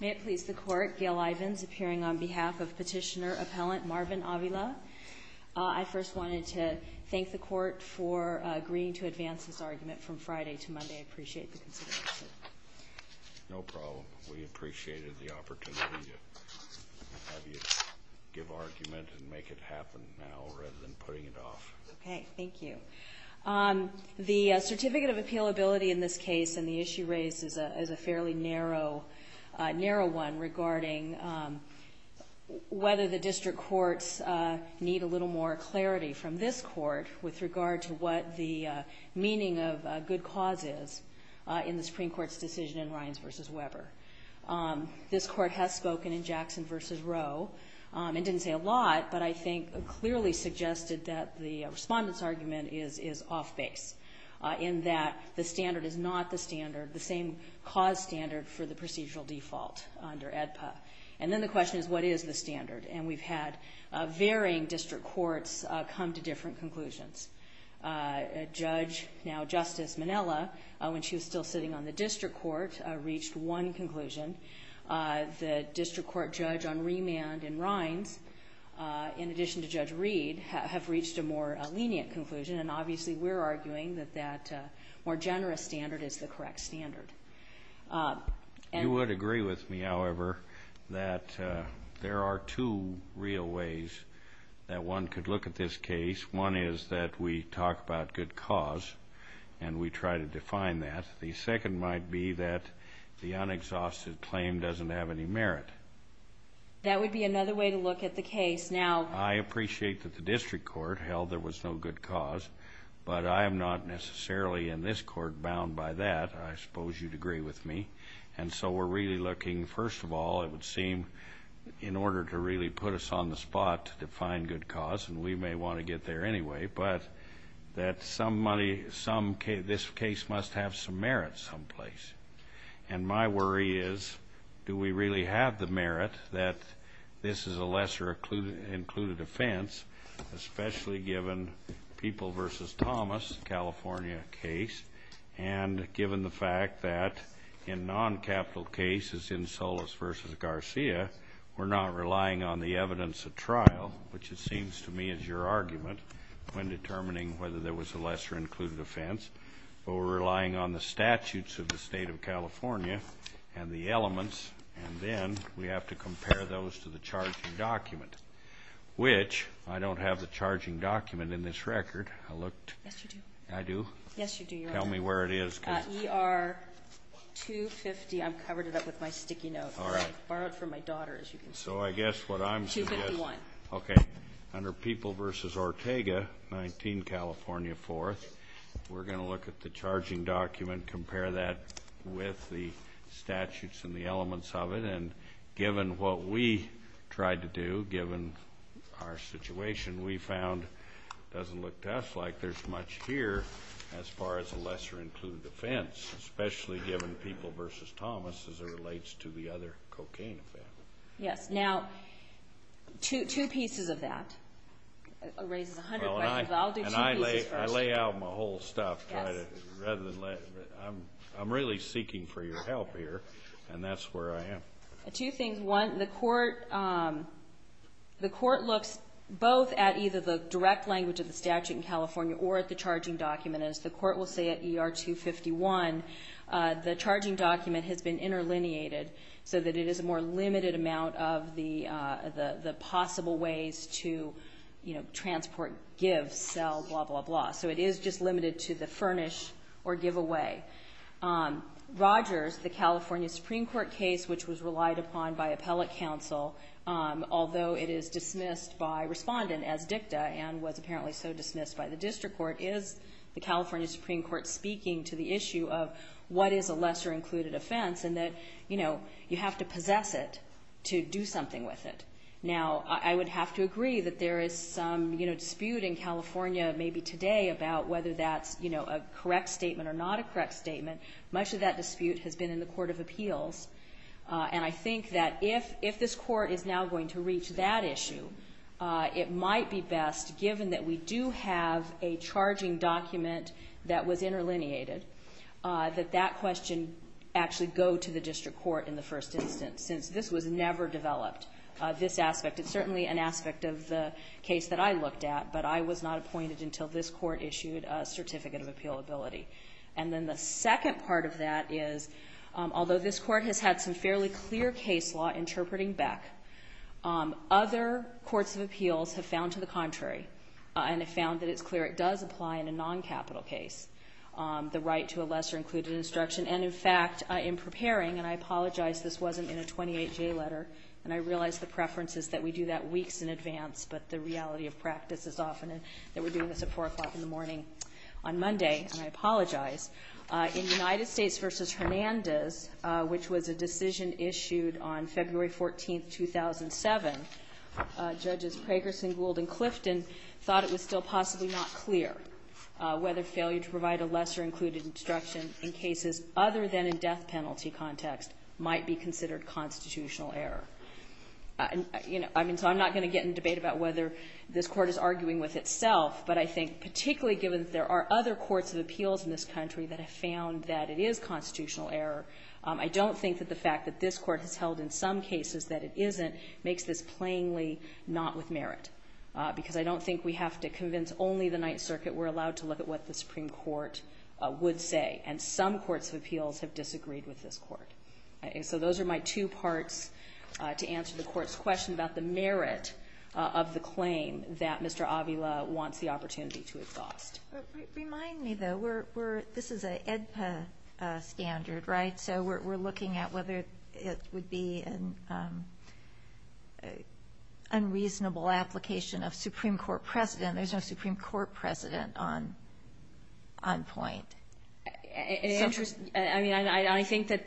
May it please the Court, Gail Ivins appearing on behalf of Petitioner-Appellant Marvin Avila. I first wanted to thank the Court for agreeing to advance this argument from Friday to Monday. I appreciate the consideration. No problem. We appreciated the opportunity to have you give argument and make it happen now rather than putting it off. Okay, thank you. The Certificate of Appealability in this case and the issue raised is a fairly narrow one regarding whether the district courts need a little more clarity from this Court with regard to what the meaning of good cause is in the Supreme Court's decision in Ryans v. Weber. This Court has spoken in Jackson v. Rowe. It didn't say a lot, but I think it clearly suggested that the Respondent's argument is off-base in that the standard is not the standard, the same cause standard for the procedural default under AEDPA. And then the question is what is the standard? And we've had varying district courts come to different conclusions. Judge, now Justice Minella, when she was still sitting on the district court, reached one conclusion. The district court judge on remand in Ryans, in addition to Judge Reed, have reached a more lenient conclusion. And obviously we're arguing that that more generous standard is the correct standard. You would agree with me, however, that there are two real ways that one could look at this case. One is that we talk about good cause and we try to define that. The second might be that the unexhausted claim doesn't have any merit. That would be another way to look at the case. Now... I appreciate that the district court held there was no good cause, but I am not necessarily in this court bound by that. I suppose you'd agree with me. And so we're really looking, first of all, it would seem, in order to really put us on the spot to define good cause, and we may want to get there anyway, but that this case must have some merit someplace. And my worry is, do we really have the merit that this is a lesser included offense, especially given People v. Thomas, California case, and given the fact that in non-capital cases, in Solis v. Garcia, we're not relying on the evidence of trial, which it seems to me is your argument, when determining whether there was a lesser included offense, but we're relying on the statutes of the state of California and the elements, and then we have to compare those to the charging document, which I don't have the charging document in this record. I looked. Yes, you do. I do? Yes, you do, Your Honor. Tell me where it is. ER 250. I've covered it up with my sticky note. All right. Borrowed from my daughter, as you can see. So I guess what I'm saying is. 251. Okay. Under People v. Ortega, 19, California, 4th, we're going to look at the charging document, compare that with the statutes and the elements of it, and given what we tried to do, given our situation, we found it doesn't look to us like there's much here as far as a lesser included offense, especially given People v. Thomas as it relates to the other cocaine offense. Yes. Now, two pieces of that raises a hundred questions. I'll do two pieces first. And I lay out my whole stuff. I'm really seeking for your help here, and that's where I am. Two things. One, the court looks both at either the direct language of the statute in California or at the charging document. As the court will say at ER 251, the charging document has been interlineated so that it is a more limited amount of the possible ways to, you know, transport, give, sell, blah, blah, blah. So it is just limited to the furnish or give away. Rogers, the California Supreme Court case, which was relied upon by appellate counsel, although it is dismissed by respondent as dicta and was apparently so dismissed by the district court, is the California Supreme Court speaking to the issue of what is a lesser included offense and that, you know, you have to possess it to do something with it. Now, I would have to agree that there is some, you know, dispute in California maybe today about whether that's, you know, a correct statement or not a correct statement. Much of that dispute has been in the court of appeals, and I think that if this court is now going to reach that issue, it might be best, given that we do have a charging document that was interlineated, that that question actually go to the district court in the first instance, since this was never developed, this aspect. It's certainly an aspect of the case that I looked at, but I was not appointed until this court issued a certificate of appealability. And then the second part of that is, although this court has had some fairly clear case law interpreting Beck, other courts of appeals have found to the contrary and have found that it's clear it does apply in a noncapital case, the right to a lesser included instruction. And, in fact, in preparing, and I apologize this wasn't in a 28-J letter, and I realize the preference is that we do that weeks in advance, but the reality of practice is often that we're doing this at 4 o'clock in the morning on Monday, and I apologize. In United States v. Hernandez, which was a decision issued on February 14, 2007, Judges Pragerson, Gould, and Clifton thought it was still possibly not clear whether failure to provide a lesser included instruction in cases other than in death penalty context might be considered constitutional error. So I'm not going to get in a debate about whether this court is arguing with itself, but I think particularly given that there are other courts of appeals in this country that have found that it is constitutional error, I don't think that the fact that this court has held in some cases that it isn't makes this plainly not with merit, because I don't think we have to convince only the Ninth Circuit. We're allowed to look at what the Supreme Court would say, and some courts of appeals have disagreed with this court. So those are my two parts to answer the court's question about the merit of the claim that Mr. Avila wants the opportunity to exhaust. Remind me, though, this is an AEDPA standard, right? So we're looking at whether it would be an unreasonable application of Supreme Court precedent. There's no Supreme Court precedent on point. I mean, I think that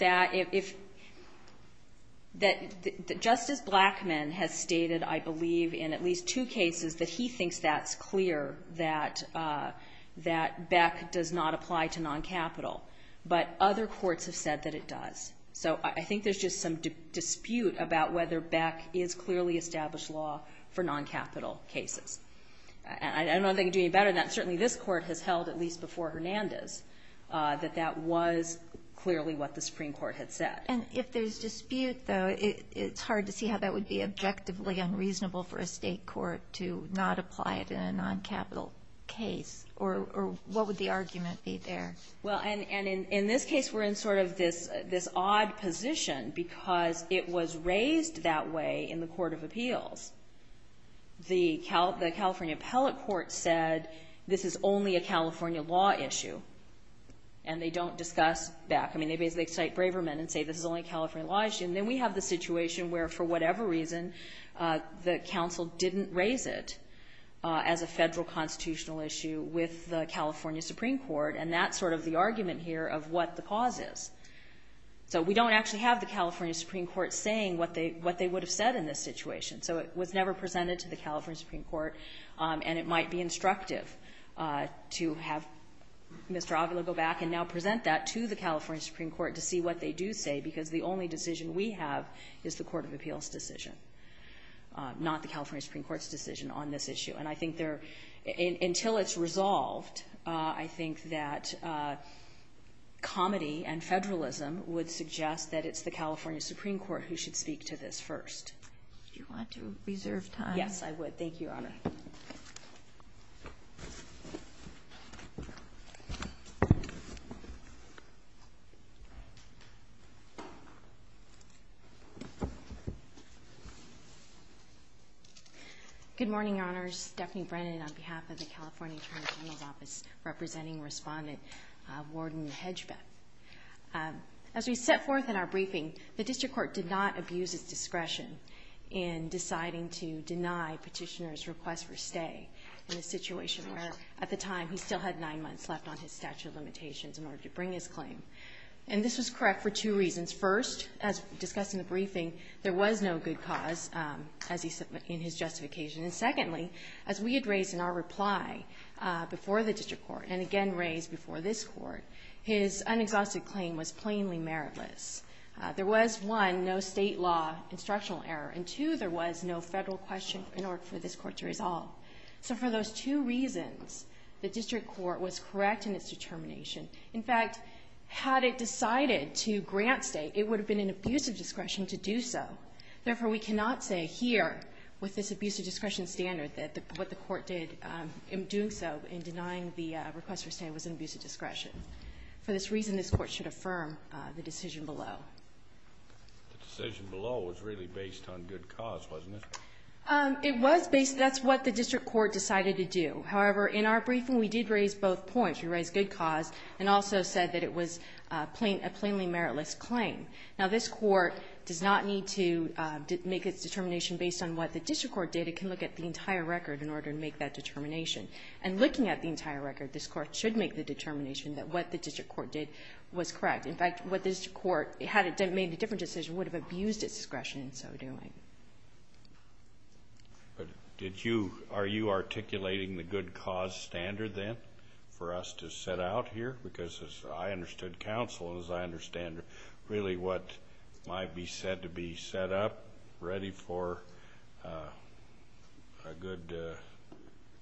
just as Blackmun has stated, I believe, in at least two cases, that he thinks that's clear, that Beck does not apply to noncapital, but other courts have said that it does. So I think there's just some dispute about whether Beck is clearly established law for noncapital cases. I don't know if they can do any better than that. But that was clearly what the Supreme Court had said. And if there's dispute, though, it's hard to see how that would be objectively unreasonable for a state court to not apply it in a noncapital case, or what would the argument be there? Well, and in this case, we're in sort of this odd position The California appellate court said this is only a California law issue, and they don't discuss Beck. I mean, they basically cite Braverman and say this is only a California law issue, and then we have the situation where, for whatever reason, the counsel didn't raise it as a federal constitutional issue with the California Supreme Court, and that's sort of the argument here of what the cause is. So we don't actually have the California Supreme Court saying what they would have said in this situation. So it was never presented to the California Supreme Court, and it might be instructive to have Mr. Avila go back and now present that to the California Supreme Court to see what they do say, because the only decision we have is the court of appeals decision, not the California Supreme Court's decision on this issue. And I think there, until it's resolved, I think that comedy and federalism would suggest that it's the California Supreme Court who should speak to this first. Do you want to reserve time? Yes, I would. Thank you, Your Honor. Good morning, Your Honors. Stephanie Brennan on behalf of the California Attorney General's Office representing Respondent Warden Hedgebeck. As we set forth in our briefing, the district court did not abuse its discretion in deciding to deny Petitioner's request for stay in a situation where, at the time, he still had nine months left on his statute of limitations in order to bring his claim. And this was correct for two reasons. First, as discussed in the briefing, there was no good cause in his justification. And secondly, as we had raised in our reply before the district court and again raised before this Court, his unexhausted claim was plainly meritless. There was, one, no state law instructional error, and two, there was no federal question in order for this Court to resolve. So for those two reasons, the district court was correct in its determination. In fact, had it decided to grant stay, it would have been an abuse of discretion to do so. Therefore, we cannot say here, with this abuse of discretion standard, that what the court did in doing so in denying the request for stay was an abuse of discretion. For this reason, this Court should affirm the decision below. The decision below was really based on good cause, wasn't it? It was based. That's what the district court decided to do. However, in our briefing, we did raise both points. We raised good cause and also said that it was a plainly meritless claim. Now, this Court does not need to make its determination based on what the district court did. It can look at the entire record in order to make that determination. And looking at the entire record, this Court should make the determination that what the district court did was correct. In fact, had the district court made a different decision, it would have abused its discretion in so doing. But are you articulating the good cause standard then for us to set out here? Because as I understood counsel, as I understand really what might be said to be set up, ready for a good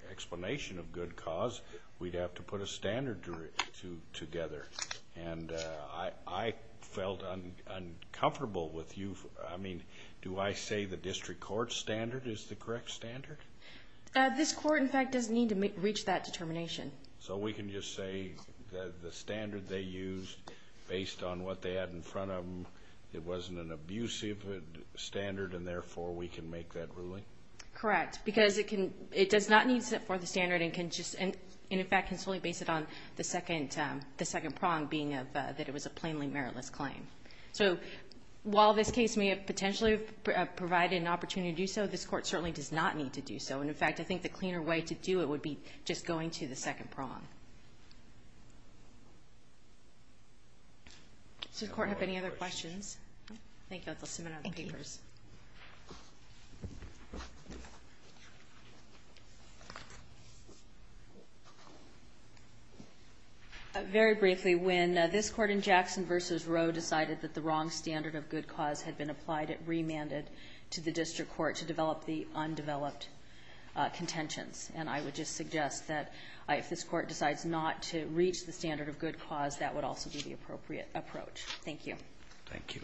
explanation of good cause, we'd have to put a standard together. And I felt uncomfortable with you. I mean, do I say the district court standard is the correct standard? This Court, in fact, does need to reach that determination. So we can just say that the standard they used, based on what they had in front of them, it wasn't an abusive standard and, therefore, we can make that ruling? Correct. Because it does not need to set forth a standard and, in fact, can solely base it on the second prong being that it was a plainly meritless claim. So while this case may have potentially provided an opportunity to do so, this Court certainly does not need to do so. And, in fact, I think the cleaner way to do it would be just going to the second prong. Does the Court have any other questions? Thank you. I'll submit it on the papers. Very briefly, when this Court in Jackson v. Roe decided that the wrong standard of good cause had been applied, it remanded to the district court to develop the undeveloped contentions. And I would just suggest that if this Court decided that the wrong standard decides not to reach the standard of good cause, that would also be the appropriate approach. Thank you. Thank you.